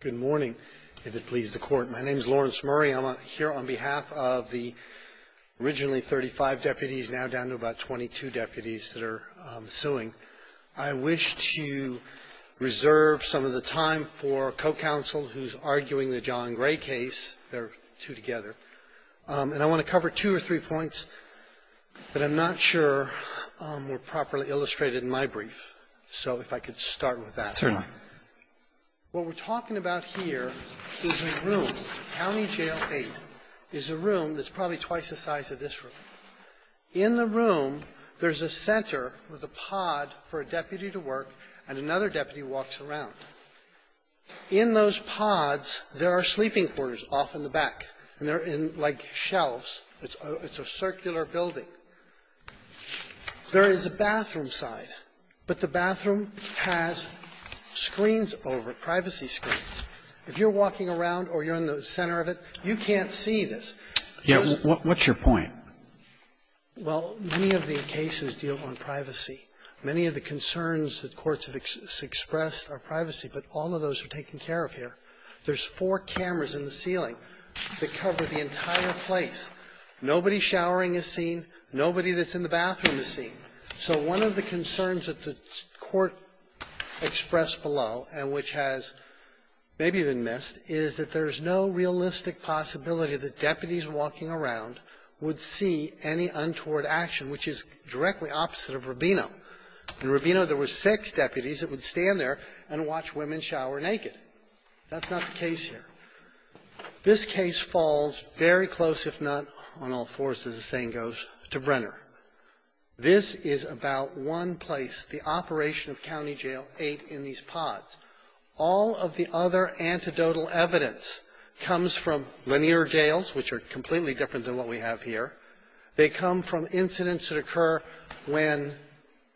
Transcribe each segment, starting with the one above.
Good morning, if it pleases the Court. My name is Lawrence Murray. I'm here on behalf of the originally 35 deputies, now down to about 22 deputies that are suing. I wish to reserve some of the time for a co-counsel who's arguing the John Gray case. They're two together. And I want to cover two or three points that I'm not sure were properly illustrated in my brief. So if I could start with that. What we're talking about here is a room, County Jail 8, is a room that's probably twice the size of this room. In the room, there's a center with a pod for a deputy to work, and another deputy walks around. In those pods, there are sleeping quarters off in the back, and they're in, like, shelves. It's a circular building. There is a bathroom side, but the bathroom has, as I said, screens over it, privacy screens. If you're walking around or you're in the center of it, you can't see this. Yeah. What's your point? Well, many of the cases deal on privacy. Many of the concerns that courts have expressed are privacy, but all of those are taken care of here. There's four cameras in the ceiling that cover the entire place. Nobody showering is seen. Nobody that's in the and which has maybe been missed is that there's no realistic possibility that deputies walking around would see any untoward action, which is directly opposite of Rubino. In Rubino, there were six deputies that would stand there and watch women shower naked. That's not the case here. This case falls very close, if not on all fours, as the saying goes, to Brenner. This is about one place the operation of County Jail 8 in these pods. All of the other antidotal evidence comes from linear jails, which are completely different than what we have here. They come from incidents that occur when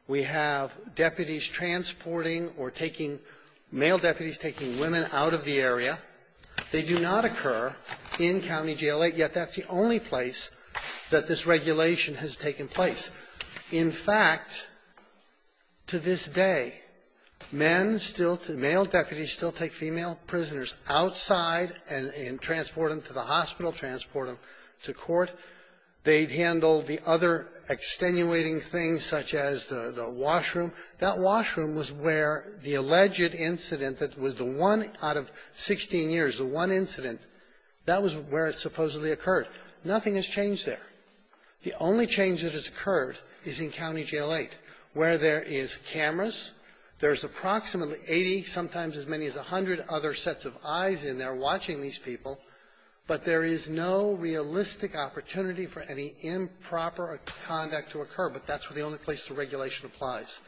we have deputies transporting or taking male deputies, taking women out of the area. They do not occur in County Jail 8, yet that's the only place that this regulation has taken place. In fact, to this day, men still to the male deputies still take female prisoners outside and transport them to the hospital, transport them to court. They'd handle the other extenuating things such as the washroom. That washroom was where the alleged incident that was the one out of 16 years, the one incident, that was where it supposedly occurred. Nothing has changed there. The only change that has occurred is in County Jail 8, where there is cameras. There's approximately 80, sometimes as many as 100, other sets of eyes in there watching these people. But there is no realistic opportunity for any improper conduct to occur, but that's where the only place the regulation applies.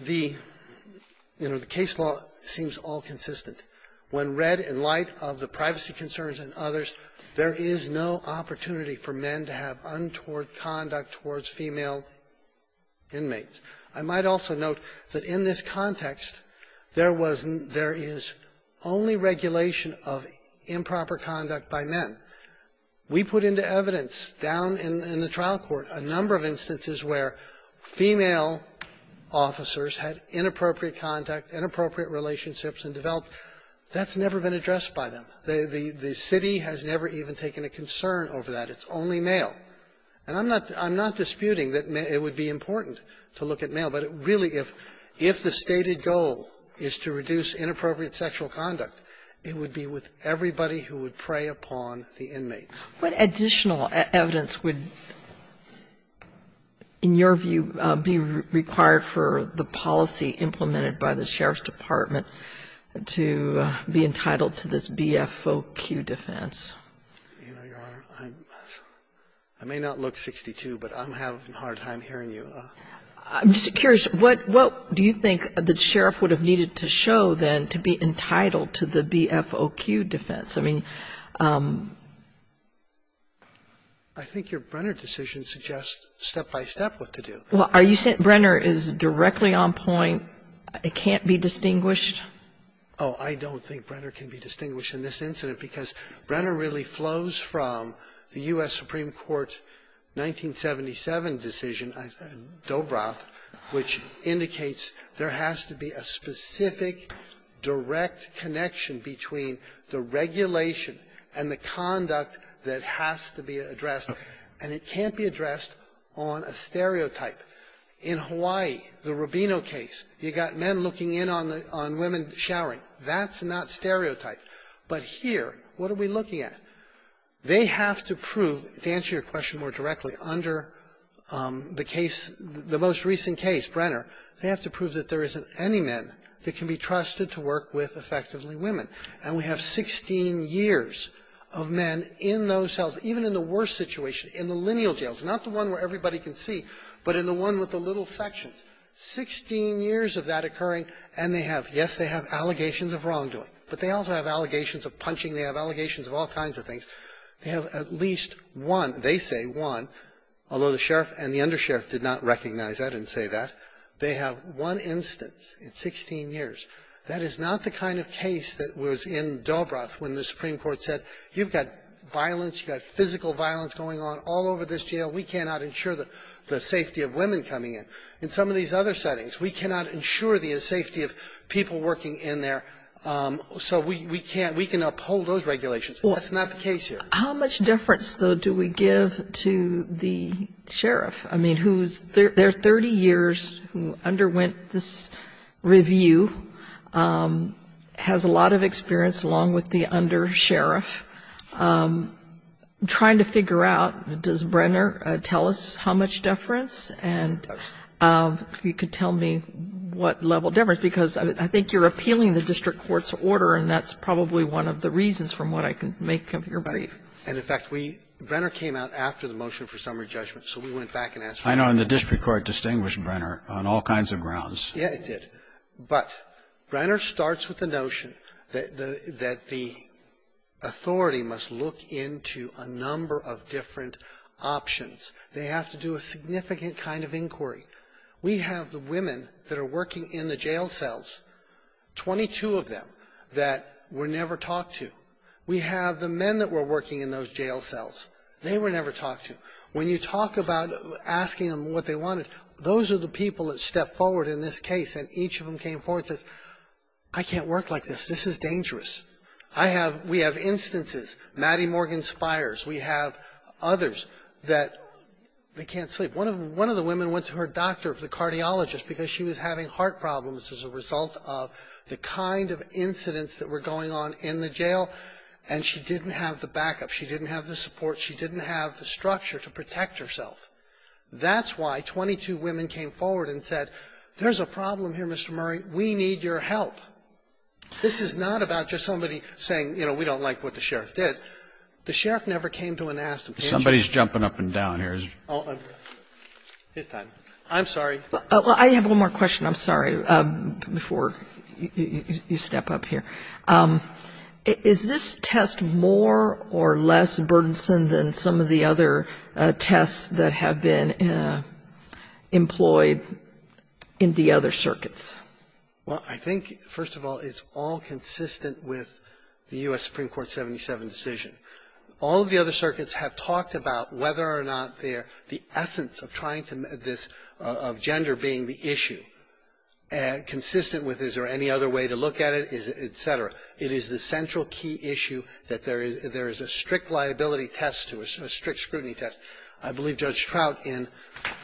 The, you know, the case law seems all consistent. When red and light are of the privacy concerns and others, there is no opportunity for men to have untoward conduct towards female inmates. I might also note that in this context, there was no – there is only regulation of improper conduct by men. We put into evidence down in the trial court a number of instances where female officers had inappropriate conduct, inappropriate relationships, and developed – that's never been addressed by them. The city has never even taken a concern over that. It's only male. And I'm not disputing that it would be important to look at male, but it really, if the stated goal is to reduce inappropriate sexual conduct, it would be with everybody who would prey upon the inmates. Kagan. What additional evidence would, in your view, be required for the policy implemented by the Sheriff's Department to be entitled to this BFOQ defense? I may not look 62, but I'm having a hard time hearing you. I'm just curious, what do you think the Sheriff would have needed to show, then, to be entitled to the BFOQ defense? I mean, I think your Brenner decision suggests step-by-step what to do. Well, are you saying Brenner is directly on point? It can't be distinguished? Oh, I don't think Brenner can be distinguished in this incident, because Brenner really flows from the U.S. Supreme Court 1977 decision, Dobroff, which indicates there has to be a specific, direct connection between the regulation and the conduct that has to be addressed, and it can't be addressed on a stereotype. In Hawaii, the Rubino case, you got men looking in on the – on women showering. That's not stereotype. But here, what are we looking at? They have to prove, to answer your question more directly, under the case – the most recent case, Brenner, they have to prove that there isn't any man that can be trusted to work with, effectively, women. And we have 16 years of men in those cells, even in the worst situation, in the lineal cells, not the one where everybody can see, but in the one with the little sections, 16 years of that occurring, and they have – yes, they have allegations of wrongdoing, but they also have allegations of punching, they have allegations of all kinds of things. They have at least one – they say one, although the sheriff and the undersheriff did not recognize that and say that. They have one instance in 16 years. That is not the kind of case that was in Dobroff when the Supreme Court said, you've got violence, you've got physical violence going on all over this jail, we cannot ensure the safety of women coming in. In some of these other settings, we cannot ensure the safety of people working in there, so we can't – we can uphold those regulations. That's not the case here. How much difference, though, do we give to the sheriff? I mean, who's – they're 30 years who underwent this review, has a lot of experience, along with the undersheriff. I'm trying to figure out, does Brenner tell us how much deference, and if you could tell me what level of deference, because I think you're appealing the district court's order, and that's probably one of the reasons from what I can make of your brief. Brenner came out after the motion for summary judgment, so we went back and asked I know in the district court distinguished Brenner on all kinds of grounds. Yes, it did. But Brenner starts with the notion that the authority must look into a number of different options. They have to do a significant kind of inquiry. We have the women that are working in the jail cells, 22 of them, that were never talked to. We have the men that were working in those jail cells. They were never talked to. When you talk about asking them what they wanted, those are the people that stepped forward in this case, and each of them came forward and said, I can't work like this. This is dangerous. I have – we have instances, Maddie Morgan Spires. We have others that can't sleep. One of the women went to her doctor, the cardiologist, because she was having heart problems as a result of the kind of incidents that were going on in the jail, and she didn't have the backup. She didn't have the support. She didn't have the structure to protect herself. That's why 22 women came forward and said, there's a problem here, Mr. Murray. We need your help. This is not about just somebody saying, you know, we don't like what the sheriff did. The sheriff never came to and asked them. Somebody's jumping up and down here. I'm sorry. I have one more question. I'm sorry, before you step up here. Is this test more or less burdensome than some of the other tests that have been employed in the other circuits? Well, I think, first of all, it's all consistent with the U.S. Supreme Court 77 decision. All of the other circuits have talked about whether or not they're – the essence of trying to – this – of gender being the issue, consistent with is there any other way to look at it, et cetera. It is the central key issue that there is a strict liability test to it, a strict scrutiny test. I believe Judge Trout in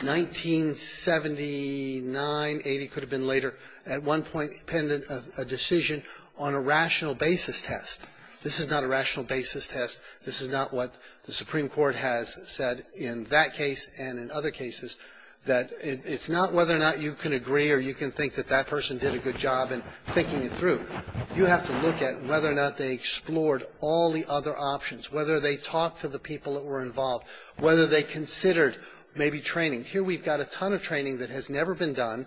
1979, 80, could have been later, at one point penned a decision on a rational basis test. This is not a rational basis test. This is not what the Supreme Court has said in that case and in other cases, that it's not whether or not you can agree or you can think that that person did a good job in thinking it through. You have to look at whether or not they explored all the other options, whether they talked to the people that were involved, whether they considered maybe training. Here we've got a ton of training that has never been done,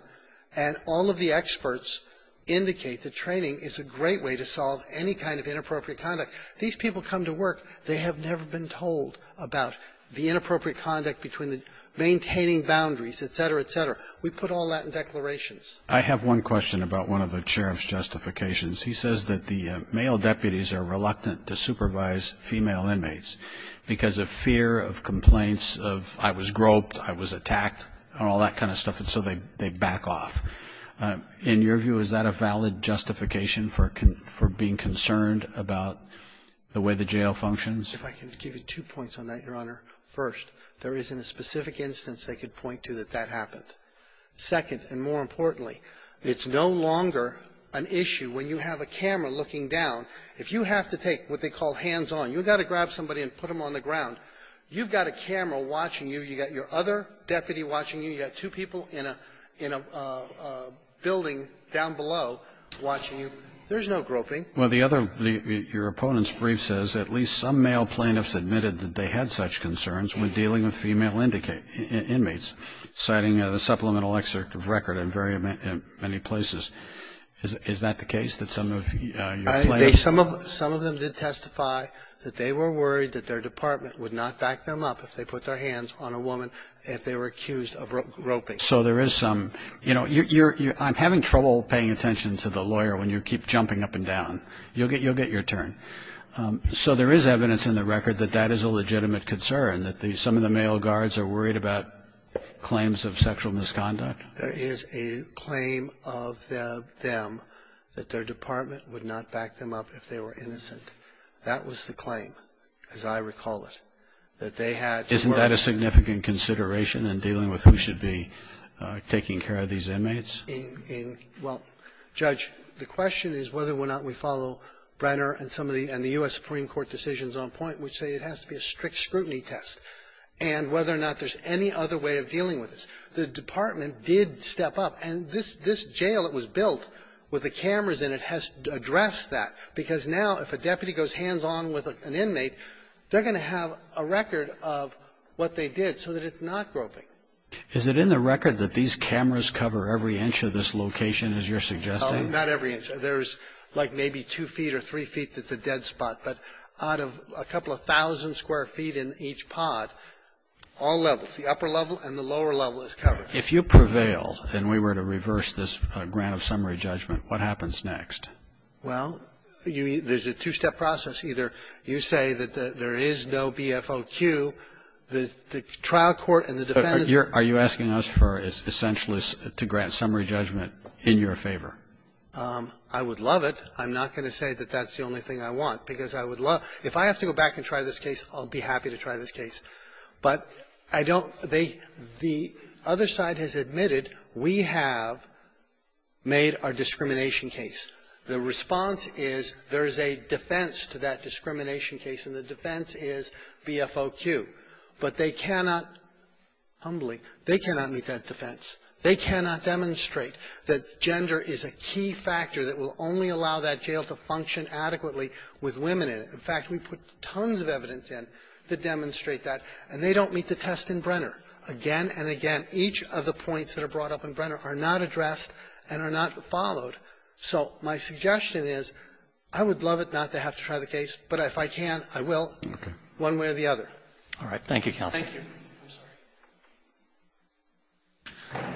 and all of the experts indicate that training is a great way to solve any kind of inappropriate conduct. These people come to work. They have never been told about the inappropriate conduct between the maintaining boundaries, et cetera, et cetera. We put all that in declarations. Roberts. I have one question about one of the sheriff's justifications. He says that the male deputies are reluctant to supervise female inmates because of fear of complaints of I was groped, I was attacked, all that kind of stuff, and so they back off. In your view, is that a valid justification for being concerned about the way the jail functions? If I can give you two points on that, Your Honor. First, there isn't a specific instance they could point to that that happened. Second, and more importantly, it's no longer an issue when you have a camera looking down. If you have to take what they call hands-on, you've got to grab somebody and put them on the ground, you've got a camera watching you, you've got your other deputy watching you, you've got two people in a building down below watching you. There's no groping. Well, the other, your opponent's brief says at least some male plaintiffs admitted that they had such concerns when dealing with female inmates, citing the supplemental excerpt of record in very many places. Is that the case, that some of your plaintiffs? Some of them did testify that they were worried that their department would not back them up if they put their hands on a woman if they were accused of groping. So there is some, you know, I'm having trouble paying attention to the lawyer when you keep jumping up and down. You'll get your turn. So there is evidence in the record that that is a legitimate concern, that some of the male guards are worried about claims of sexual misconduct? There is a claim of them that their department would not back them up if they were innocent. That was the claim, as I recall it, that they had to work. Isn't that a significant consideration in dealing with who should be taking care of these inmates? Well, Judge, the question is whether or not we follow Brenner and some of the US Supreme Court decisions on point, which say it has to be a strict scrutiny test, and whether or not there's any other way of dealing with this. The department did step up. And this jail that was built with the cameras in it has addressed that, because now if a deputy goes hands-on with an inmate, they're going to have a record of what they did so that it's not groping. Is it in the record that these cameras cover every inch of this location, as you're suggesting? Not every inch. There's like maybe two feet or three feet that's a dead spot. But out of a couple of thousand square feet in each pod, all levels, the upper level and the lower level, is covered. If you prevail and we were to reverse this grant of summary judgment, what happens next? Well, there's a two-step process. Either you say that there is no BFOQ. The trial court and the defendant are going to be able to say that there's no BFOQ. Are you asking us for essentialists to grant summary judgment in your favor? I would love it. I'm not going to say that that's the only thing I want, because I would love to. If I have to go back and try this case, I'll be happy to try this case. But I don't think the other side has admitted we have made our discrimination case. The response is there is a defense to that discrimination case, and the defense is BFOQ. But they cannot, humbly, they cannot meet that defense. They cannot demonstrate that gender is a key factor that will only allow that jail to function adequately with women in it. In fact, we put tons of evidence in to demonstrate that. And they don't meet the test in Brenner. Again and again, each of the points that are brought up in Brenner are not addressed and are not followed. So my suggestion is I would love it not to have to try the case, but if I can, I will, one way or the other. Roberts. Thank you, counsel. Thank you. I'm sorry.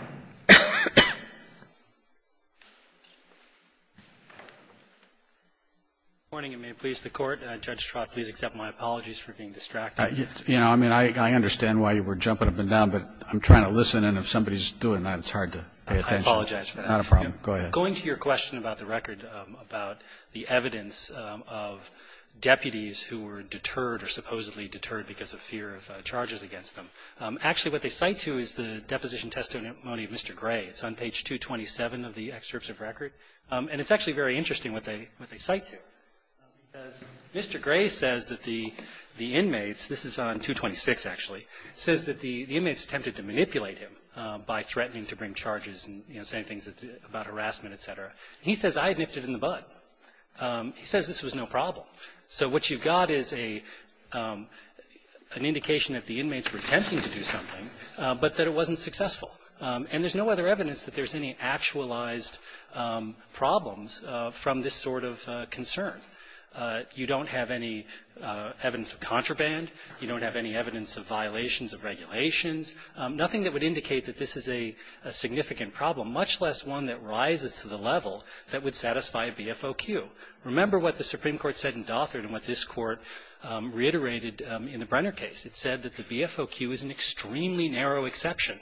Morning, and may it please the Court. Judge Trott, please accept my apologies for being distracted. You know, I mean, I understand why you were jumping up and down, but I'm trying to listen, and if somebody's doing that, it's hard to pay attention. I apologize for that. Not a problem. Go ahead. Going to your question about the record, about the evidence of deputies who were deterred or supposedly deterred because of fear of charges against them, actually what they cite to is the deposition testimony of Mr. Gray. It's on page 227 of the excerpts of record. And it's actually very interesting what they cite to, because Mr. Gray says that the inmates, this is on 226, actually, says that the inmates attempted to manipulate him by threatening to bring charges and, you know, saying things about harassment, et cetera. He says, I had nipped it in the bud. He says this was no problem. So what you've got is an indication that the inmates were attempting to do something, but that it wasn't successful. And there's no other evidence that there's any actualized problems from this sort of concern. You don't have any evidence of contraband. You don't have any evidence of violations of regulations. Nothing that would indicate that this is a significant problem, much less one that rises to the level that would satisfy a BFOQ. Remember what the Supreme Court said in Daughter and what this Court reiterated in the Brenner case. It said that the BFOQ is an extremely narrow exception,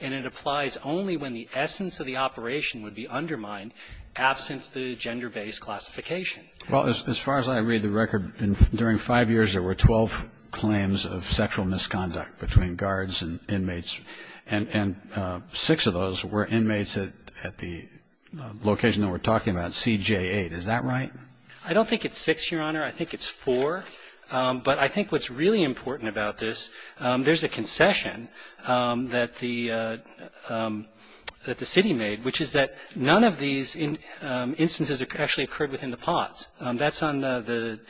and it applies only when the essence of the operation would be undermined absent the gender-based classification. Well, as far as I read the record, during five years there were 12 claims of sexual misconduct between guards and inmates, and six of those were inmates at the location that we're talking about, CJ-8. Is that right? I don't think it's six, Your Honor. I think it's four. But I think what's really important about this, there's a concession that the city made, which is that none of these instances actually occurred within the pods. That's on the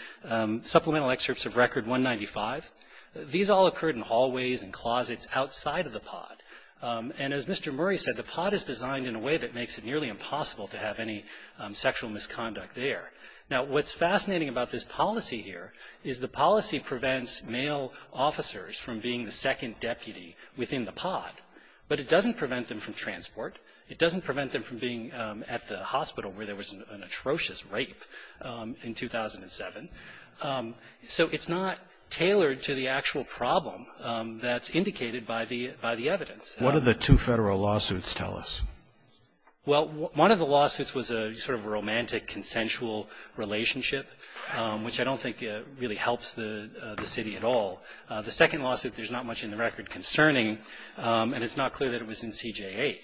supplemental excerpts of Record 195. These all occurred in hallways and closets outside of the pod. And as Mr. Murray said, the pod is designed in a way that makes it nearly impossible to have any sexual misconduct there. Now, what's fascinating about this policy here is the policy prevents male officers from being the second deputy within the pod, but it doesn't prevent them from transport. It doesn't prevent them from being at the hospital where there was an atrocious rape in 2007. So it's not tailored to the actual problem that's indicated by the evidence. What do the two Federal lawsuits tell us? Well, one of the lawsuits was a sort of romantic, consensual relationship, which I don't think really helps the city at all. The second lawsuit, there's not much in the record concerning, and it's not clear that it was in CJ-8.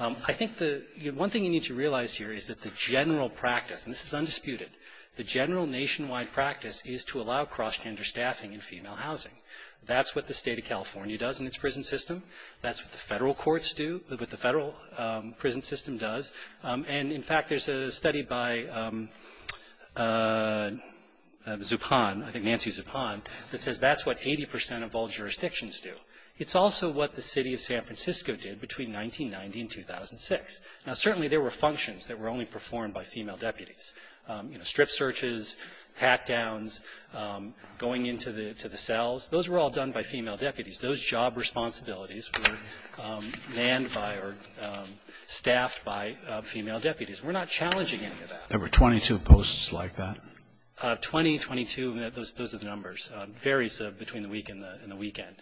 I think the one thing you need to realize here is that the general practice, and this is undisputed, the general nationwide practice is to allow cross-gender staffing in female housing. That's what the State of California does in its prison system. That's what the Federal courts do, what the Federal prison system does. And in fact, there's a study by Zupan, I think Nancy Zupan, that says that's what 80% of all jurisdictions do. It's also what the City of San Francisco did between 1990 and 2006. Now, certainly, there were functions that were only performed by female deputies. You know, strip searches, pat-downs, going into the cells. Those were all done by female deputies. Those job responsibilities were manned by or staffed by female deputies. We're not challenging any of that. There were 22 posts like that? Twenty, 22, those are the numbers. It varies between the week and the weekend.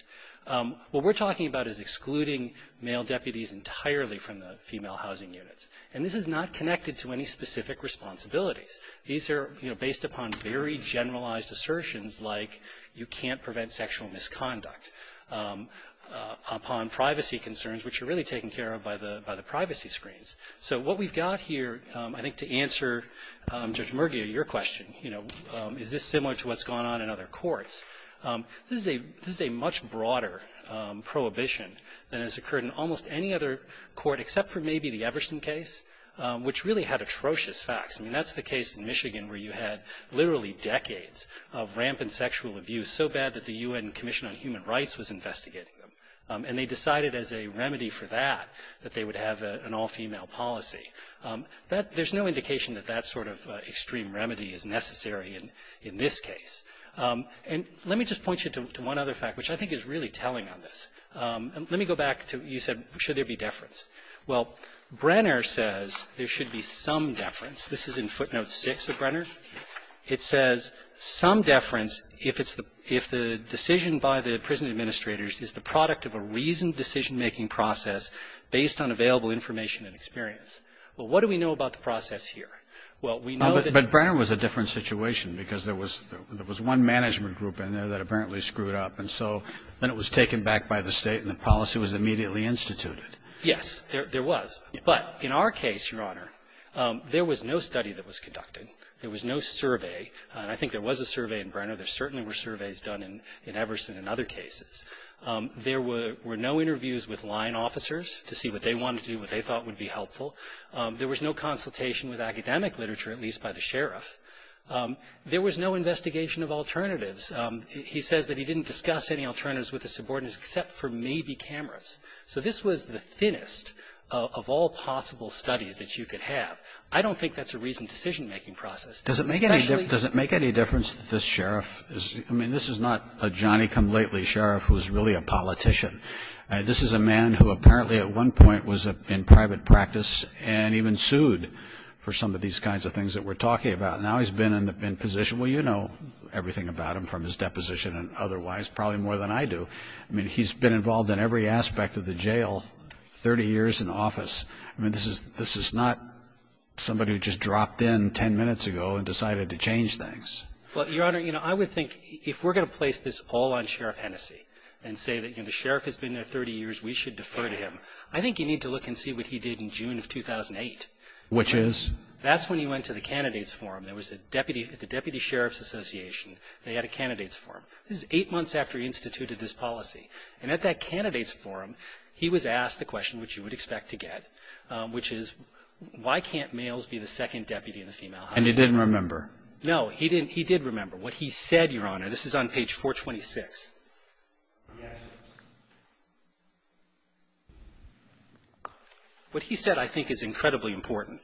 What we're talking about is excluding male deputies entirely from the female housing units. And this is not connected to any specific responsibilities. These are based upon very generalized assertions like, you can't prevent sexual misconduct, upon privacy concerns, which are really taken care of by the privacy screens. So what we've got here, I think to answer Judge Murgia, your question, is this similar to what's going on in other courts? This is a much broader prohibition than has occurred in almost any other court, except for maybe the Everson case, which really had atrocious facts. I mean, that's the case in Michigan where you had literally decades of rampant sexual abuse, so bad that the U.N. Commission on Human Rights was investigating them. And they decided as a remedy for that, that they would have an all-female policy. There's no indication that that sort of extreme remedy is necessary in this case. And let me just point you to one other fact, which I think is really telling on this. Let me go back to you said, should there be deference? Well, Brenner says there should be some deference. This is in footnote 6 of Brenner. It says, some deference if it's the ‑‑ if the decision by the prison administrators is the product of a reasoned decision-making process based on available information and experience. Well, what do we know about the process here? Well, we know that ‑‑ because there was one management group in there that apparently screwed up. And so then it was taken back by the state, and the policy was immediately instituted. Yes, there was. But in our case, Your Honor, there was no study that was conducted. There was no survey, and I think there was a survey in Brenner. There certainly were surveys done in Everson and other cases. There were no interviews with line officers to see what they wanted to do, what they thought would be helpful. There was no consultation with academic literature, at least by the sheriff. There was no investigation of alternatives. He says that he didn't discuss any alternatives with the subordinates except for maybe cameras. So this was the thinnest of all possible studies that you could have. I don't think that's a reasoned decision-making process. Does it make any difference that this sheriff is ‑‑ I mean, this is not a Johnny come lately sheriff who's really a politician. This is a man who apparently at one point was in private practice and even sued for some of these kinds of things that we're talking about. Now he's been in position, well, you know everything about him from his deposition and otherwise probably more than I do. I mean, he's been involved in every aspect of the jail 30 years in office. I mean, this is not somebody who just dropped in 10 minutes ago and decided to change things. Well, Your Honor, you know, I would think if we're going to place this all on Sheriff Hennessey and say that, you know, the sheriff has been there 30 years, we should defer to him, I think you need to look and see what he did in June of 2008. Which is? That's when he went to the Candidates Forum. There was a deputy ‑‑ at the Deputy Sheriff's Association, they had a Candidates Forum. This is eight months after he instituted this policy. And at that Candidates Forum, he was asked a question which you would expect to get, which is, why can't males be the second deputy in the female hospital? And he didn't remember. No. He didn't ‑‑ he did remember. What he said, Your Honor, this is on page 426. Yes. What he said, I think, is incredibly important.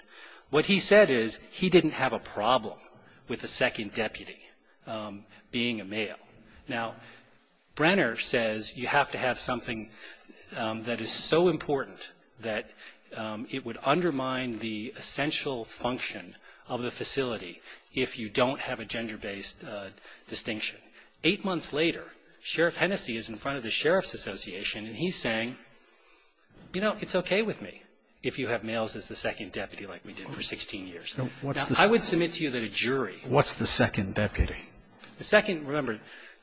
What he said is he didn't have a problem with the second deputy being a male. Now, Brenner says you have to have something that is so important that it would undermine the essential function of the facility if you don't have a gender‑based distinction. Eight months later, Sheriff Hennessey is in front of the Sheriff's Association, and he's saying, you know, it's okay with me if you have males as the second deputy like we did for 16 years. Now, I would submit to you that a jury ‑‑ What's the second deputy? The second, remember,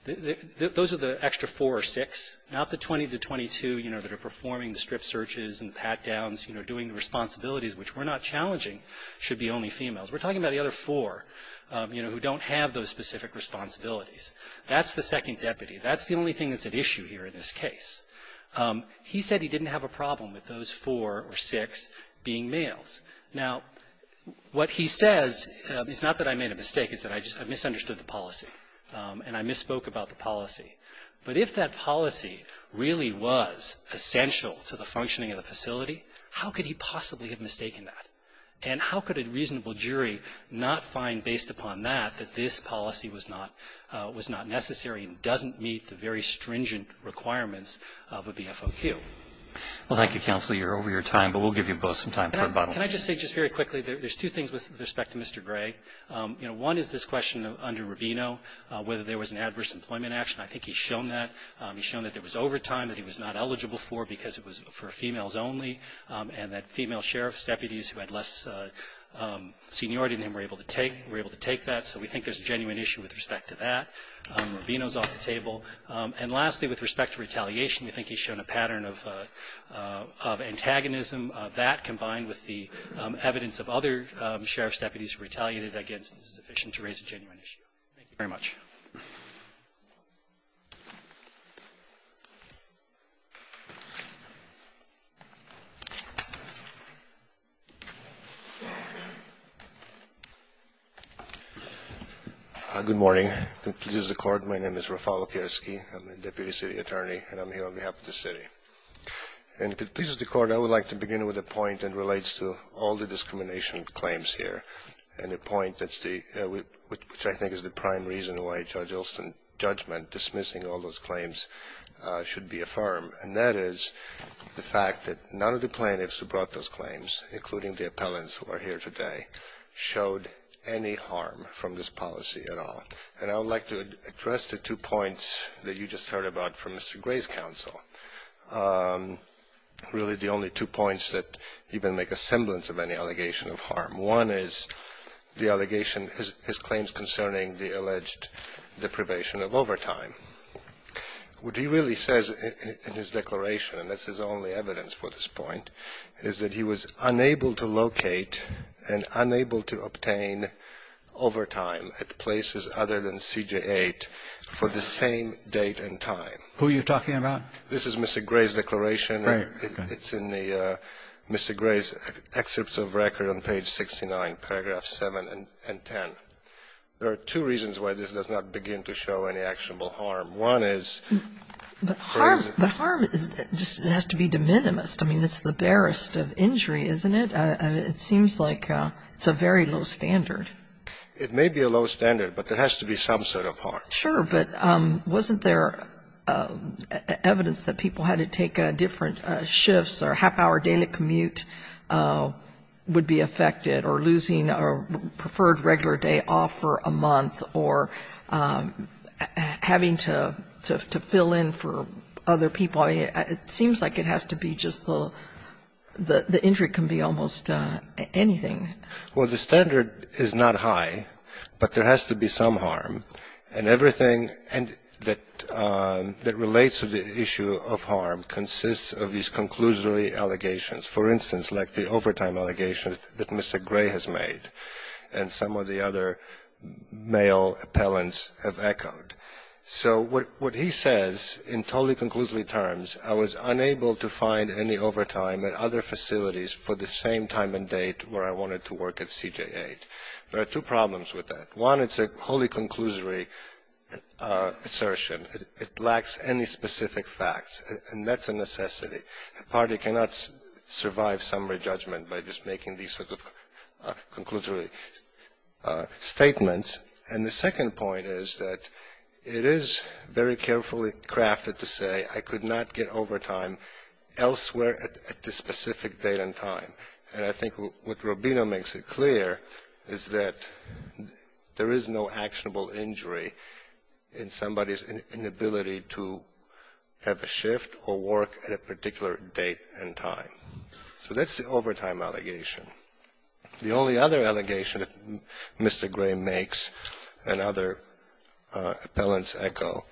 those are the extra four or six. Not the 20 to 22, you know, that are performing the strip searches and pat downs, you know, doing the responsibilities, which we're not challenging, should be only females. We're talking about the other four, you know, who don't have those specific responsibilities. That's the second deputy. That's the only thing that's at issue here in this case. He said he didn't have a problem with those four or six being males. Now, what he says is not that I made a mistake. It's that I misunderstood the policy, and I misspoke about the policy. But if that policy really was essential to the functioning of the facility, how could he possibly have mistaken that? And how could a reasonable jury not find, based upon that, that this policy was not necessary and doesn't meet the very stringent requirements of a BFOQ? Well, thank you, counsel. You're over your time, but we'll give you both some time for a bottle of water. Can I just say just very quickly, there's two things with respect to Mr. Gray. You know, one is this question under Rubino, whether there was an adverse employment action. I think he's shown that. He's shown that there was overtime that he was not eligible for because it was for females only, and that female sheriff's deputies who had less seniority than him were able to take that. So we think there's a genuine issue with respect to that. Rubino's off the table. And lastly, with respect to retaliation, we think he's shown a pattern of antagonism of that combined with the evidence of other sheriff's deputies who retaliated against this petition to raise a genuine issue. Thank you very much. Good morning. If it pleases the court, my name is Rafał Opierski, I'm a deputy city attorney, and I'm here on behalf of the city. And if it pleases the court, I would like to begin with a point that relates to all the discrimination claims here, and a point that's the, which I think is the prime reason why Judge Olson's judgment dismissing all those claims should be affirmed, and that is the fact that none of the plaintiffs who brought those claims, including the appellants who are here today, showed any harm from this policy at all. And I would like to address the two points that you just heard about from Mr. Gray's counsel, really the only two points that even make a semblance of any allegation of harm. One is the allegation, his claims concerning the alleged deprivation of overtime. What he really says in his declaration, and that's his only evidence for this point, is that he was unable to locate and unable to obtain overtime at places other than CJ-8 for the same date and time. Who are you talking about? This is Mr. Gray's declaration. Right. Okay. It's in the, Mr. Gray's excerpts of record on page 69, paragraphs 7 and 10. There are two reasons why this does not begin to show any actionable harm. One is, or is it? But harm is, it has to be de minimis. I mean, it's the barest of injury, isn't it? It seems like it's a very low standard. It may be a low standard, but there has to be some sort of harm. Sure, but wasn't there evidence that people had to take different shifts or half-hour daily commute would be affected, or losing a preferred regular day off for a month, or having to fill in for other people? It seems like it has to be just the injury can be almost anything. Well, the standard is not high, but there has to be some harm. And everything that relates to the issue of harm consists of these conclusively allegations. For instance, like the overtime allegations that Mr. Gray has made, and some of the other male appellants have echoed. So what he says in totally conclusively terms, I was unable to find any overtime at other facilities for the same time and date where I wanted to work at CJ-8. There are two problems with that. One, it's a wholly conclusively assertion. It lacks any specific facts, and that's a necessity. A party cannot survive summary judgment by just making these sorts of conclusively statements. And the second point is that it is very carefully crafted to say, I could not get overtime elsewhere at this specific date and time. And I think what Robino makes it clear is that there is no actionable injury in somebody's inability to have a shift or work at a particular date and time. So that's the overtime allegation. The only other allegation that Mr. Gray makes and other appellants echo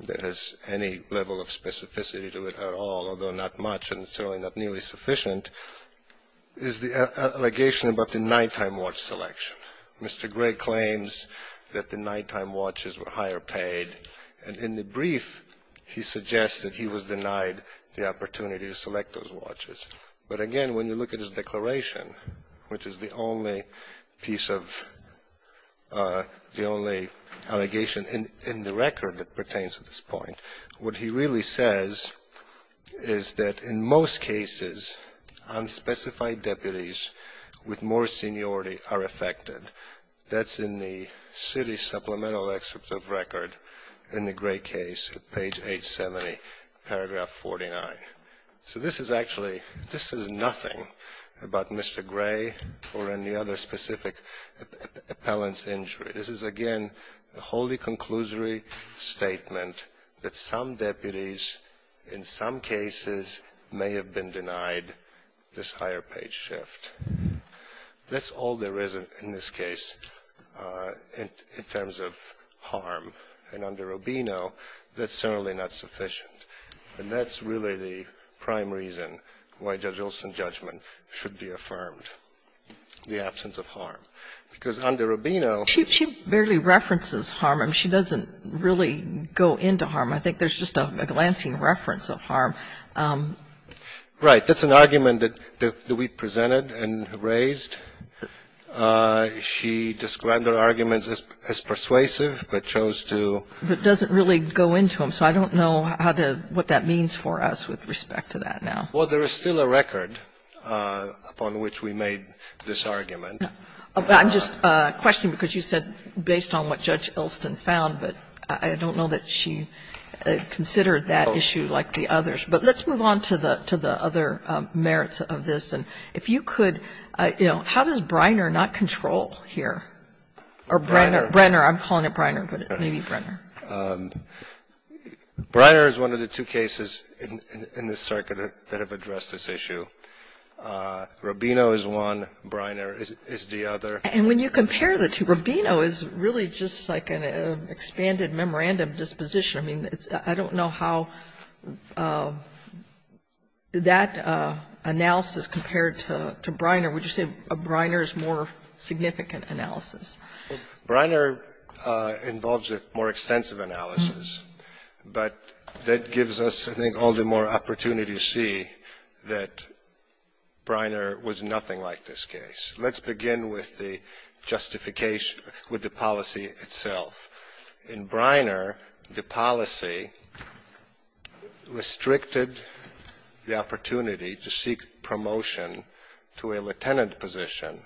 that has any level of specificity to it at all, although not much and certainly not nearly sufficient, is the allegation about the nighttime watch selection. Mr. Gray claims that the nighttime watches were higher paid, and in the brief he suggests that he was denied the opportunity to select those watches. But again, when you look at his declaration, which is the only piece of the only allegation in the record that pertains to this point, what he really says is that in most cases, unspecified deputies with more seniority are affected. That's in the city supplemental excerpt of record in the Gray case at page 870, paragraph 49. So this is actually, this is nothing about Mr. Gray or any other specific appellant's injury. This is again a wholly conclusory statement that some deputies, in some cases, may have been denied this higher-paid shift. That's all there is in this case in terms of harm. And under Rubino, that's certainly not sufficient. And that's really the prime reason why Judge Olson's judgment should be affirmed, the absence of harm. Because under Rubino ---- Sotomayor, she barely references harm. I mean, she doesn't really go into harm. I think there's just a glancing reference of harm. Right. That's an argument that we presented and raised. She described her arguments as persuasive, but chose to ---- But doesn't really go into them. So I don't know how to ---- what that means for us with respect to that now. Well, there is still a record upon which we made this argument. I'm just questioning because you said based on what Judge Olson found, but I don't know that she considered that issue like the others. But let's move on to the other merits of this. And if you could, you know, how does Breiner not control here? Or Breiner. Breiner. I'm calling it Breiner, but maybe Breiner. Breiner is one of the two cases in this circuit that have addressed this issue. Rubino is one. Breiner is the other. And when you compare the two, Rubino is really just like an expanded memorandum disposition. I mean, I don't know how that analysis compared to Breiner. Would you say Breiner is more significant analysis? Breiner involves a more extensive analysis, but that gives us, I think, all the more opportunity to see that Breiner was nothing like this case. Let's begin with the justification, with the policy itself. In Breiner, the policy restricted the opportunity to seek promotion to a lieutenant position.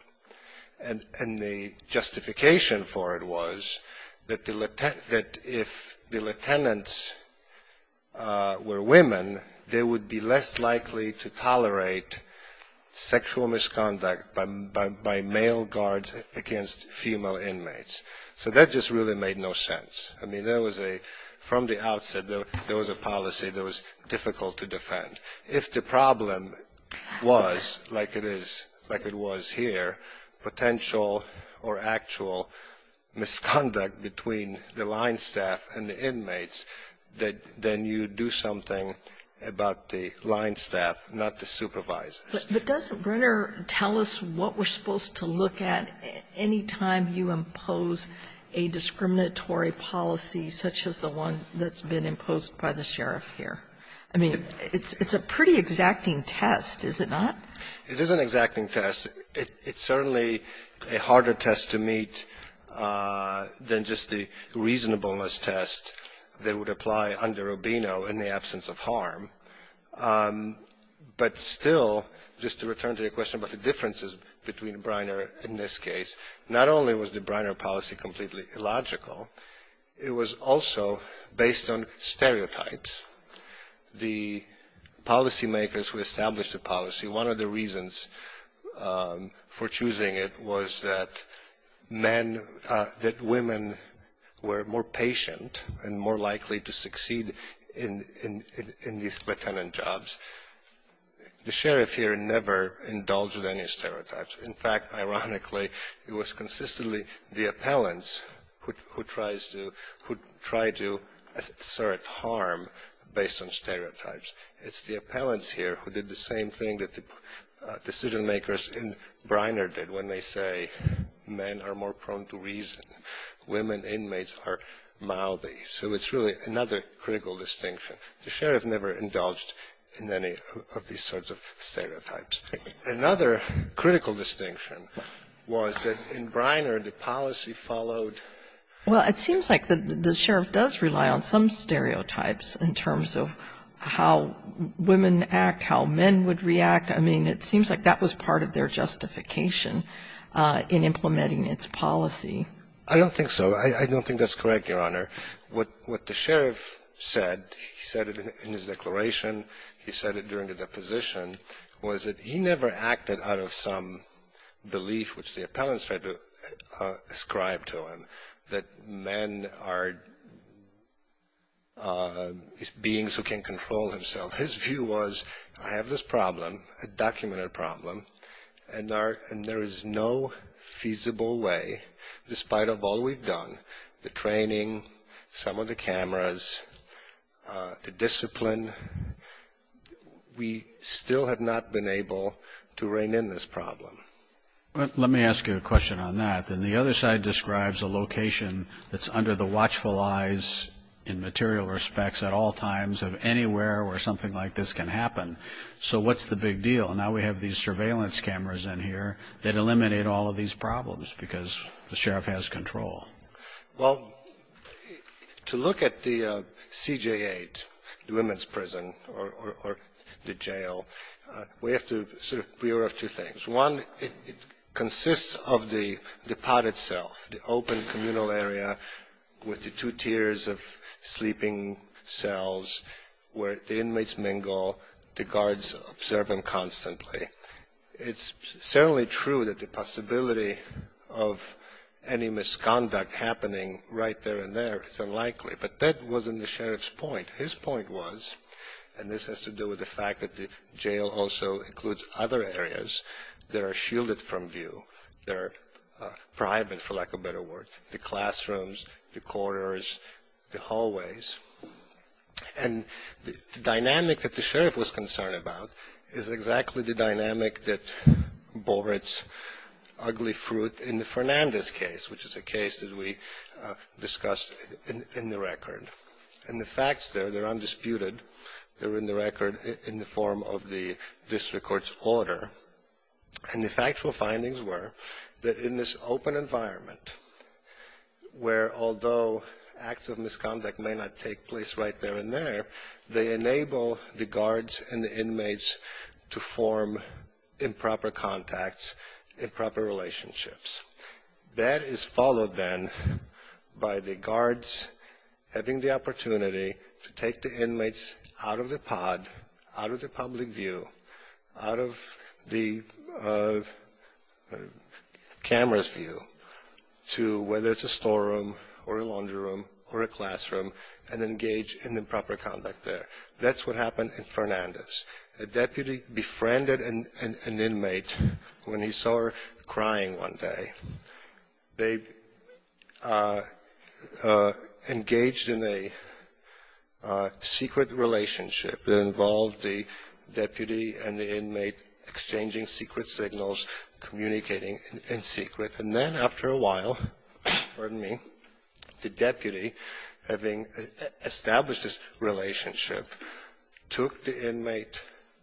And the justification for it was that if the lieutenants were women, they would be less likely to tolerate sexual misconduct by male guards against female inmates. So that just really made no sense. I mean, there was a, from the outset, there was a policy that was difficult to defend. If the problem was like it is, like it was here, potential or actual misconduct between the line staff and the inmates, then you do something about the line staff, not the supervisors. But doesn't Breiner tell us what we're supposed to look at any time you impose a discriminatory policy such as the one that's been imposed by the sheriff here? I mean, it's a pretty exacting test, is it not? It is an exacting test. It's certainly a harder test to meet than just the reasonableness test that would apply under Rubino in the absence of harm. But still, just to return to your question about the differences between Breiner and this case, not only was the Breiner policy completely illogical, it was also based on stereotypes. The policymakers who established the policy, one of the reasons for choosing it was that men, that women were more patient and more likely to succeed in these lieutenant jobs. The sheriff here never indulged in any stereotypes. In fact, ironically, it was consistently the appellants who tried to assert harm based on stereotypes. It's the appellants here who did the same thing that the decision makers in Breiner did when they say men are more prone to reason, women inmates are mildly. So it's really another critical distinction. The sheriff never indulged in any of these sorts of stereotypes. Another critical distinction was that in Breiner, the policy followed. Well, it seems like the sheriff does rely on some stereotypes in terms of how women act, how men would react. I mean, it seems like that was part of their justification in implementing its policy. I don't think so. I don't think that's correct, Your Honor. What the sheriff said, he said it in his declaration, he said it during the deposition, was that he never acted out of some belief, which the appellants tried to ascribe to him, that men are beings who can control himself. His view was, I have this problem, a documented problem, and there is no feasible way, despite of all we've done, the training, some of the cameras, the discipline, we still have not been able to rein in this problem. Well, let me ask you a question on that. Then the other side describes a location that's under the watchful eyes in material respects at all times of anywhere where something like this can happen. So what's the big deal? Now we have these surveillance cameras in here that eliminate all of these problems because the sheriff has control. Well, to look at the CJ8, the women's prison or the jail, we have to sort of be aware of two things. One, it consists of the pod itself, the open communal area with the two tiers of sleeping cells where the inmates mingle, the guards observe them constantly. It's certainly true that the possibility of any misconduct happening right there and there is unlikely, but that wasn't the sheriff's point. His point was, and this has to do with the fact that the jail also includes other areas that are shielded from view, that are private, for lack of a better word, the classrooms, the corridors, the hallways. And the dynamic that the sheriff was concerned about is exactly the dynamic that bore its ugly fruit in the Fernandez case, which is a case that we discussed in the record. And the facts there, they're undisputed, they're in the record in the form of the district court's order. And the factual findings were that in this open environment where although acts of misconduct may not take place right there and there, they enable the guards and the inmates to form improper contacts, improper relationships. That is followed then by the guards having the opportunity to take the inmates out of the pod, out of the public view, out of the camera's view to whether it's a storeroom or a laundry room or a classroom, and engage in improper conduct there. That's what happened in Fernandez. A deputy befriended an inmate when he saw her crying one day. They engaged in a secret relationship that involved the deputy and the inmate exchanging secret signals, communicating in secret. And then after a while, pardon me, the deputy, having established this relationship, took the inmate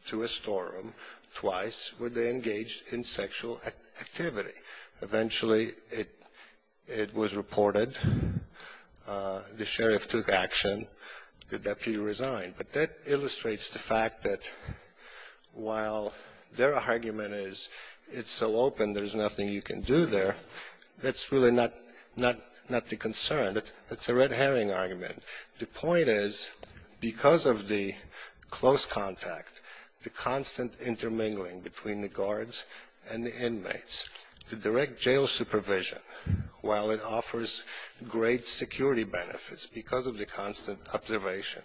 to a storeroom twice where they engaged in sexual activity. Eventually it was reported, the sheriff took action, the deputy resigned. But that illustrates the fact that while their argument is it's so open there's nothing you can do there, that's really not the concern, that's a red herring argument. The point is because of the close contact, the constant intermingling between the guards and the inmates, the direct jail supervision, while it offers great security benefits because of the constant observation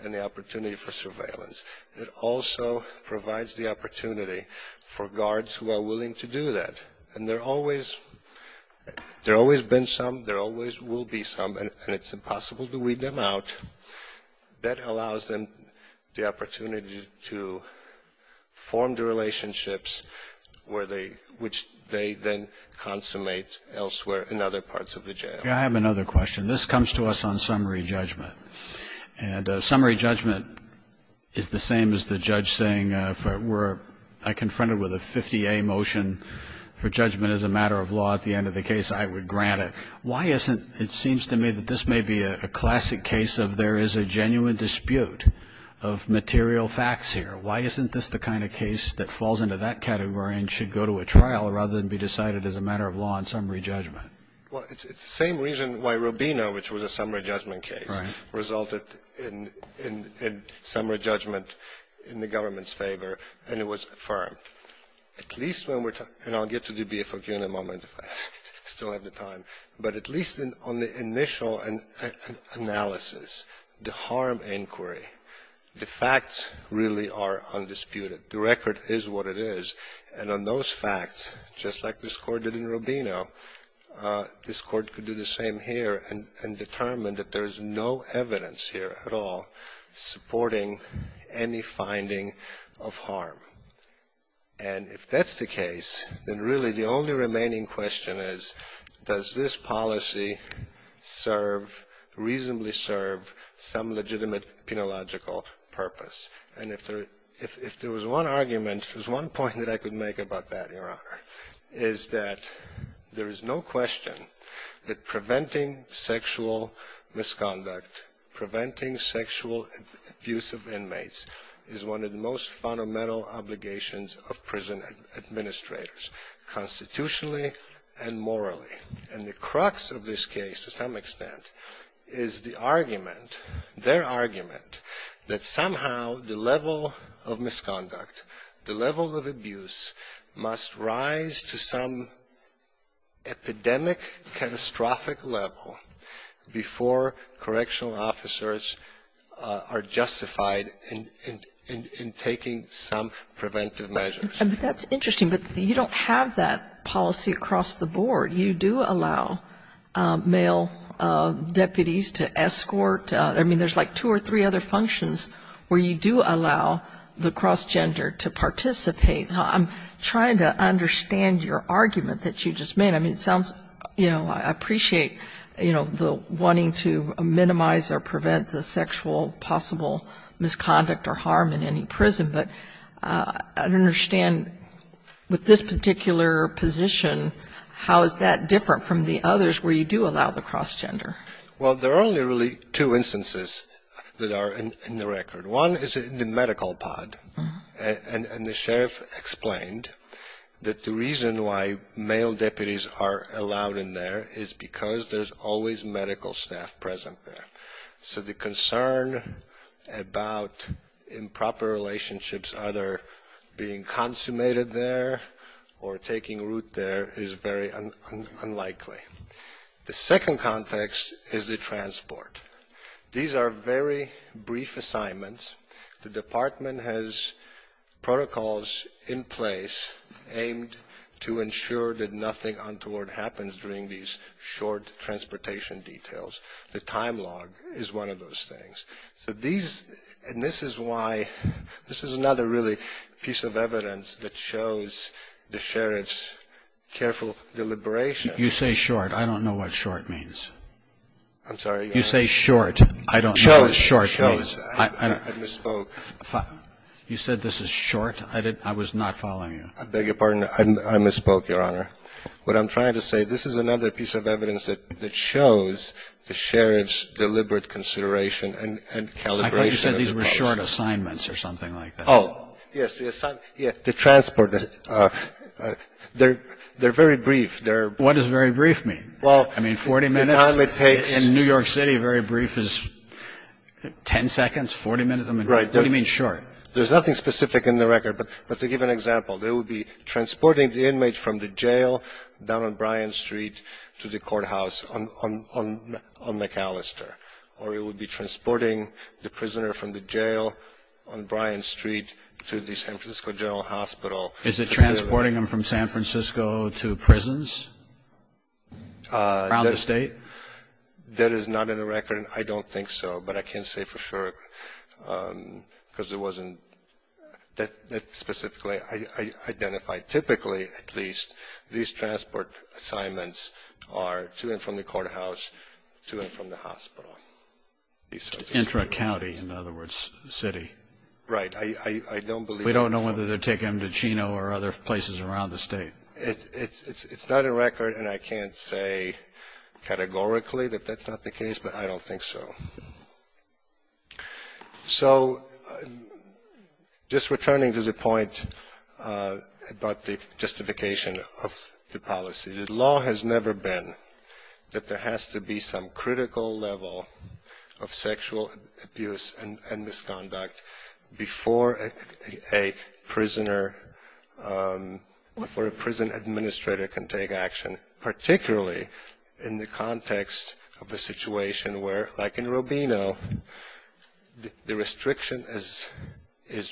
and the opportunity for surveillance, it also provides the opportunity for guards who are willing to do that. And there always, there always been some, there always will be some, and it's impossible to weed them out. That allows them the opportunity to form the relationships which they then consummate elsewhere in other parts of the jail. I have another question. This comes to us on summary judgment. And summary judgment is the same as the judge saying if it were, I confronted with a 50A motion for judgment as a matter of law at the end of the case, I would grant it. Why isn't, it seems to me that this may be a classic case of there is a genuine dispute of material facts here. Why isn't this the kind of case that falls into that category and should go to a trial rather than be decided as a matter of law in summary judgment? Well, it's the same reason why Rubino, which was a summary judgment case, resulted in summary judgment in the government's favor and it was affirmed. At least when we're talking, and I'll get to the BFQ in a moment if I still have the time, but at least on the initial analysis, the harm inquiry, the facts really are undisputed. The record is what it is. And on those facts, just like this court did in Rubino, this court could do the same here and determine that there is no evidence here at all supporting any finding of harm. And if that's the case, then really the only remaining question is, does this policy serve, reasonably serve, some legitimate penological purpose? And if there was one argument, if there was one point that I could make about that, Your Honor, is that there is no question that preventing sexual misconduct, preventing sexual abuse of inmates is one of the most fundamental obligations of prison administrators, constitutionally and morally. And the crux of this case, to some extent, is the argument, their argument, that somehow the level of misconduct, the level of abuse must rise to some epidemic, catastrophic level before correctional officers are justified in taking some preventive measures. But that's interesting. But you don't have that policy across the board. You do allow male deputies to escort. I mean, there's like two or three other functions where you do allow the cross-gender to participate. Now, I'm trying to understand your argument that you just made. I mean, it sounds, you know, I appreciate, you know, the wanting to minimize or prevent the sexual possible misconduct or harm in any prison. But I don't understand, with this particular position, how is that different from the others where you do allow the cross-gender? Well, there are only really two instances that are in the record. One is in the medical pod. And the sheriff explained that the reason why male deputies are allowed in there is because there's always medical staff present there. So the concern about improper relationships either being consummated there or taking root there is very unlikely. The second context is the transport. These are very brief assignments. The department has protocols in place aimed to ensure that nothing untoward happens during these short transportation details. The time log is one of those things. So these, and this is why, this is another really piece of evidence that shows the sheriff's careful deliberation. You say short. I don't know what short means. I'm sorry? You say short. I don't know what short means. I misspoke. You said this is short? I was not following you. I beg your pardon. I misspoke, Your Honor. What I'm trying to say, this is another piece of evidence that shows the sheriff's deliberate consideration and calibration. I thought you said these were short assignments or something like that. Oh, yes. The transport, they're very brief. What does very brief mean? Well, I mean, 40 minutes in New York City, very brief is 10 seconds, 40 minutes. I mean, what do you mean short? There's nothing specific in the record. But to give an example, they would be transporting the inmate from the jail down on Bryan Street to the courthouse on McAllister. Or it would be transporting the prisoner from the jail on Bryan Street to the San Francisco General Hospital. Is it transporting him from San Francisco to prisons around the state? That is not in the record. I don't think so. But I can say for sure, because it wasn't that specifically identified. Typically, at least, these transport assignments are to and from the courthouse, to and from the hospital. Intra-county, in other words, city. Right. We don't know whether they're taking him to Chino or other places around the state. It's not a record. And I can't say categorically that that's not the case. But I don't think so. So just returning to the point about the justification of the policy. The law has never been that there has to be some critical level of sexual abuse and misconduct before a prisoner or a prison administrator can take action, particularly in the context of a situation where, like in Rubino, the restriction is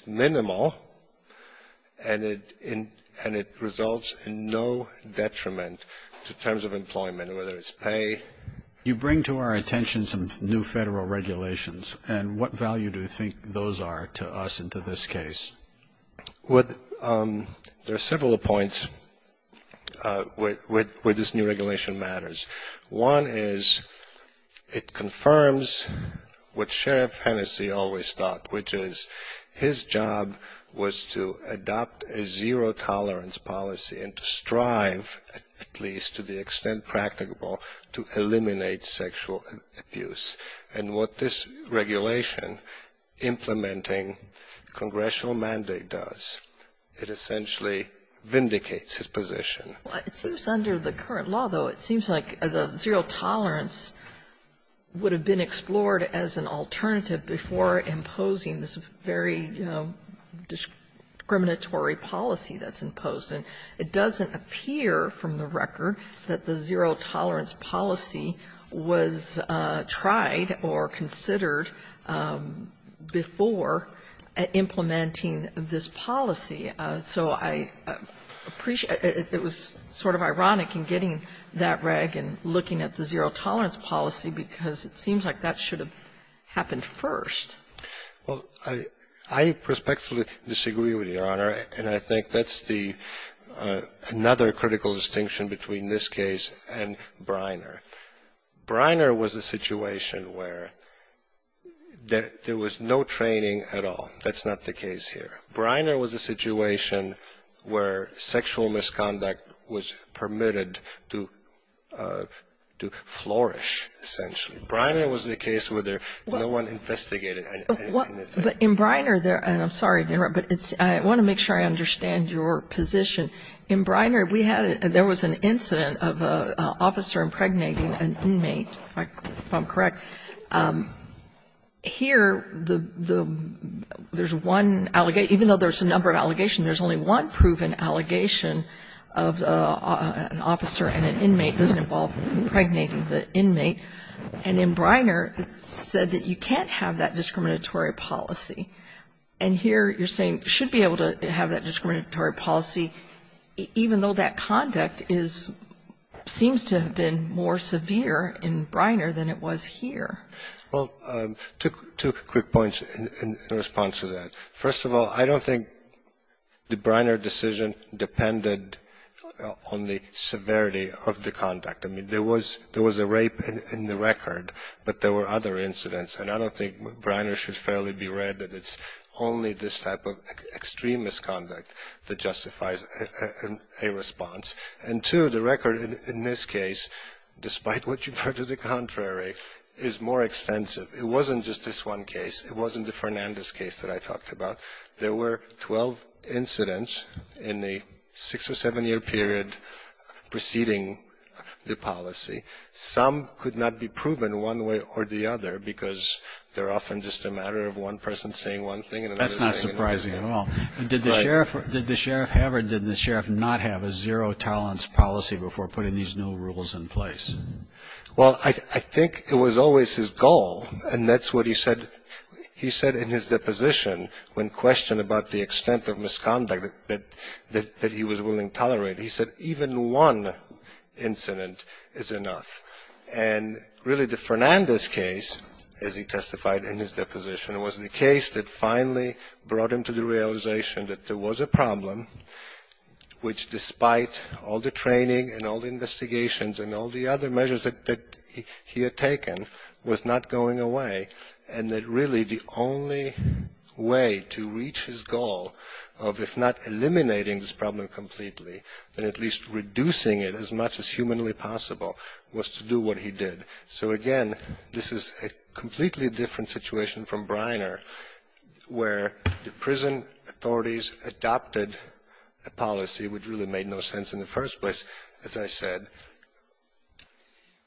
minimal and it results in no detriment to terms of employment, whether it's pay. You bring to our attention some new federal regulations. And what value do you think those are to us and to this case? There are several points where this new regulation matters. One is it confirms what Sheriff Hennessey always thought, which is his job was to adopt a zero-tolerance policy and to strive, at least to the extent practicable, to eliminate sexual abuse. And what this regulation implementing congressional mandate does, it essentially vindicates his position. It seems under the current law, though, it seems like the zero-tolerance would have been explored as an alternative before imposing this very discriminatory policy that's imposed. And it doesn't appear from the record that the zero-tolerance policy was tried or considered before implementing this policy. So I appreciate it was sort of ironic in getting that reg and looking at the zero-tolerance policy because it seems like that should have happened first. Well, I respectfully disagree with you, Your Honor. And I think that's the another critical distinction between this case and Briner. Briner was a situation where there was no training at all. That's not the case here. Briner was a situation where sexual misconduct was permitted to flourish, essentially. Briner was the case where there was no one investigated. But in Briner, and I'm sorry to interrupt, but I want to make sure I understand your position. In Briner, there was an incident of an officer impregnating an inmate, if I'm correct. Here, there's one, even though there's a number of allegations, there's only one proven allegation of an officer and an inmate doesn't involve impregnating the inmate. And in Briner, it's said that you can't have that discriminatory policy. And here, you're saying should be able to have that discriminatory policy, even though that conduct seems to have been more severe in Briner than it was here. Well, two quick points in response to that. First of all, I don't think the Briner decision depended on the severity of the conduct. I mean, there was a rape in the record, but there were other incidents. And I don't think Briner should fairly be read that it's only this type of extremist conduct that justifies a response. And two, the record in this case, despite what you've heard to the contrary, is more extensive. It wasn't just this one case. It wasn't the Fernandez case that I talked about. There were 12 incidents in a six- or seven-year period preceding the policy. Some could not be proven one way or the other because they're often just a matter of one person saying one thing and another saying another. Did the sheriff have or did the sheriff not have a zero-tolerance policy before putting these new rules in place? Well, I think it was always his goal, and that's what he said in his deposition when questioned about the extent of misconduct that he was willing to tolerate. He said even one incident is enough. And really, the Fernandez case, as he testified in his deposition, was the case that finally brought him to the realization that there was a problem which, despite all the training and all the investigations and all the other measures that he had taken, was not going away, and that really the only way to reach his goal of, if not eliminating this problem completely, then at least reducing it as much as humanly possible, was to do what he did. So, again, this is a completely different situation from Briner, where the prison authorities adopted a policy which really made no sense in the first place, as I said,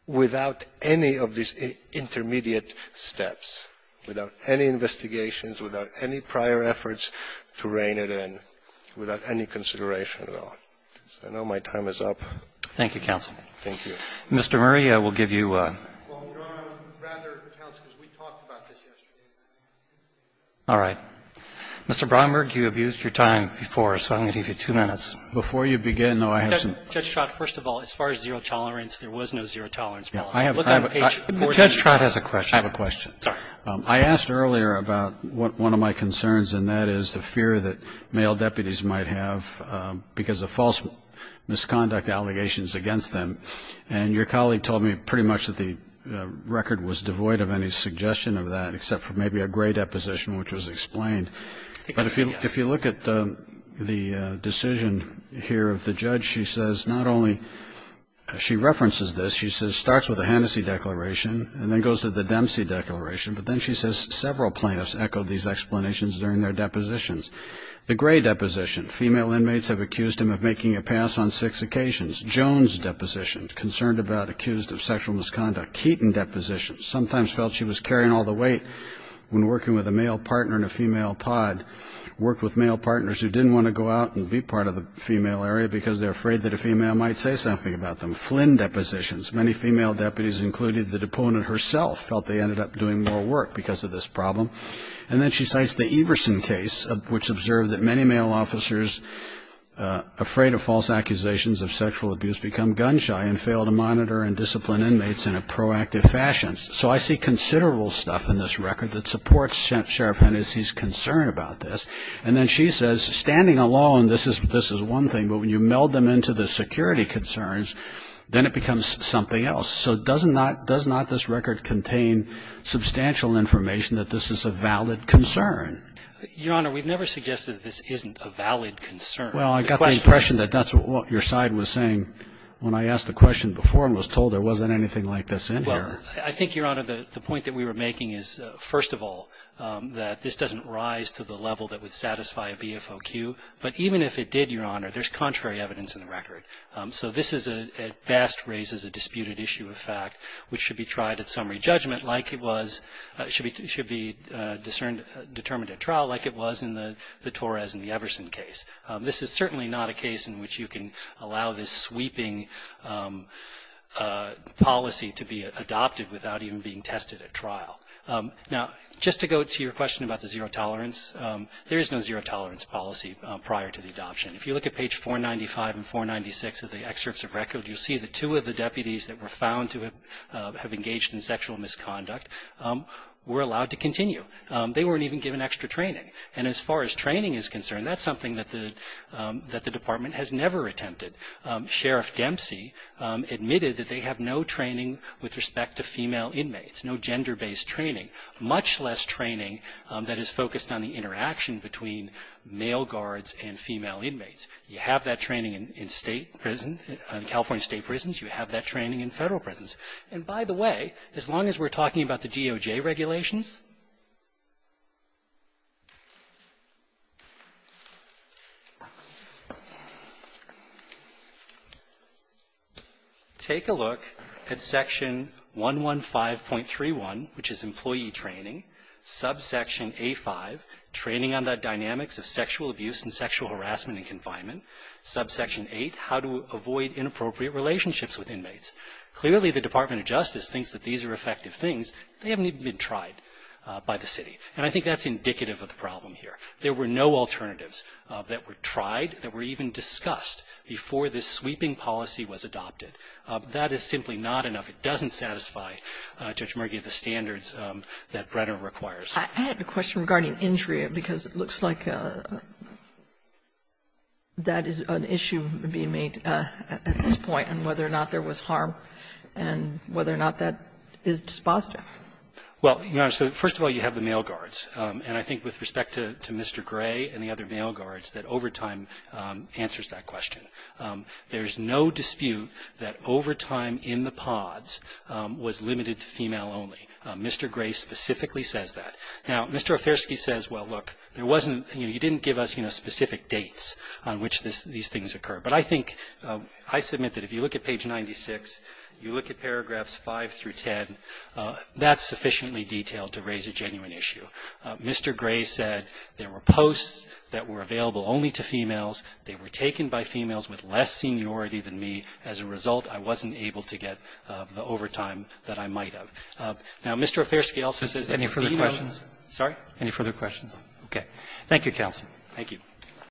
without any of these intermediate steps, without any investigations, without any prior efforts to rein it in, without any consideration at all. I know my time is up. Roberts. Thank you, counsel. Thank you. Mr. Murray, I will give you a ---- Well, no, rather, counsel, because we talked about this yesterday. All right. Mr. Bromberg, you abused your time before, so I'm going to give you two minutes. Before you begin, though, I have some ---- Judge Trott, first of all, as far as zero tolerance, there was no zero tolerance policy. I have a question. I have a question. I asked earlier about one of my concerns, and that is the fear that male deputies might have because of false misconduct allegations against them. And your colleague told me pretty much that the record was devoid of any suggestion of that, except for maybe a gray deposition, which was explained. But if you look at the decision here of the judge, she says not only ---- she references this. She says it starts with the Hennessey Declaration and then goes to the Dempsey Declaration, but then she says several plaintiffs echoed these explanations during their depositions. The gray deposition, female inmates have accused him of making a pass on six occasions. Jones deposition, concerned about accused of sexual misconduct. Keaton deposition, sometimes felt she was carrying all the weight when working with a male partner in a female pod, worked with male partners who didn't want to go out and be part of the female area because they're afraid that a female might say something about them. Flynn depositions, many female deputies, including the deponent herself, felt they ended up doing more work because of this problem. And then she cites the Everson case, which observed that many male officers afraid of false accusations of sexual abuse become gun shy and fail to monitor and discipline inmates in a proactive fashion. So I see considerable stuff in this record that supports Sheriff Hennessey's concern about this. And then she says, standing alone, this is one thing, but when you meld them into the security concerns, then it becomes something else. So does not this record contain substantial information that this is a valid concern? Your Honor, we've never suggested that this isn't a valid concern. Well, I got the impression that that's what your side was saying when I asked the question before and was told there wasn't anything like this in here. Well, I think, Your Honor, the point that we were making is, first of all, that this doesn't rise to the level that would satisfy a BFOQ. But even if it did, Your Honor, there's contrary evidence in the record. So this is a, at best, raises a disputed issue of fact, which should be tried at summary judgment like it was, should be determined at trial like it was in the Torres and the Everson case. This is certainly not a case in which you can allow this sweeping policy to be adopted without even being tested at trial. Now, just to go to your question about the zero tolerance, there is no zero tolerance policy prior to the adoption. If you look at page 495 and 496 of the excerpts of record, you'll see the two of the deputies that were found to have engaged in sexual misconduct were allowed to continue. They weren't even given extra training. And as far as training is concerned, that's something that the Department has never attempted. Sheriff Dempsey admitted that they have no training with respect to female inmates, no gender-based training, much less training that is focused on the interaction between male guards and female inmates. You have that training in state prison, California state prisons. You have that training in federal prisons. And by the way, as long as we're talking about the DOJ regulations, we're not going to get anywhere. Take a look at section 115.31, which is employee training, subsection A-5, training on the dynamics of sexual abuse and sexual harassment in confinement, subsection 8, how to avoid inappropriate relationships with inmates. Clearly, the Department of Justice thinks that these are effective things. They haven't even been tried by the city. And I think that's indicative of the problem here. There were no alternatives that were tried, that were even discussed before this sweeping policy was adopted. That is simply not enough. It doesn't satisfy, Judge Murgay, the standards that Brenner requires. I have a question regarding injury, because it looks like that is an issue being made at this point on whether or not there was harm and whether or not that is dispositive. Well, Your Honor, so first of all, you have the male guards. And I think with respect to Mr. Gray and the other male guards, that overtime answers that question. There's no dispute that overtime in the pods was limited to female only. Mr. Gray specifically says that. Now, Mr. Ofersky says, well, look, there wasn't you know, he didn't give us, you know, specific dates on which these things occur. But I think, I submit that if you look at page 96, you look at paragraphs 5 through 10, that's sufficiently detailed to raise a genuine issue. Mr. Gray said there were posts that were available only to females. They were taken by females with less seniority than me. As a result, I wasn't able to get the overtime that I might have. Now, Mr. Ofersky also says that the females ---- Any further questions? Sorry? Any further questions? Okay. Thank you, counsel. Thank you.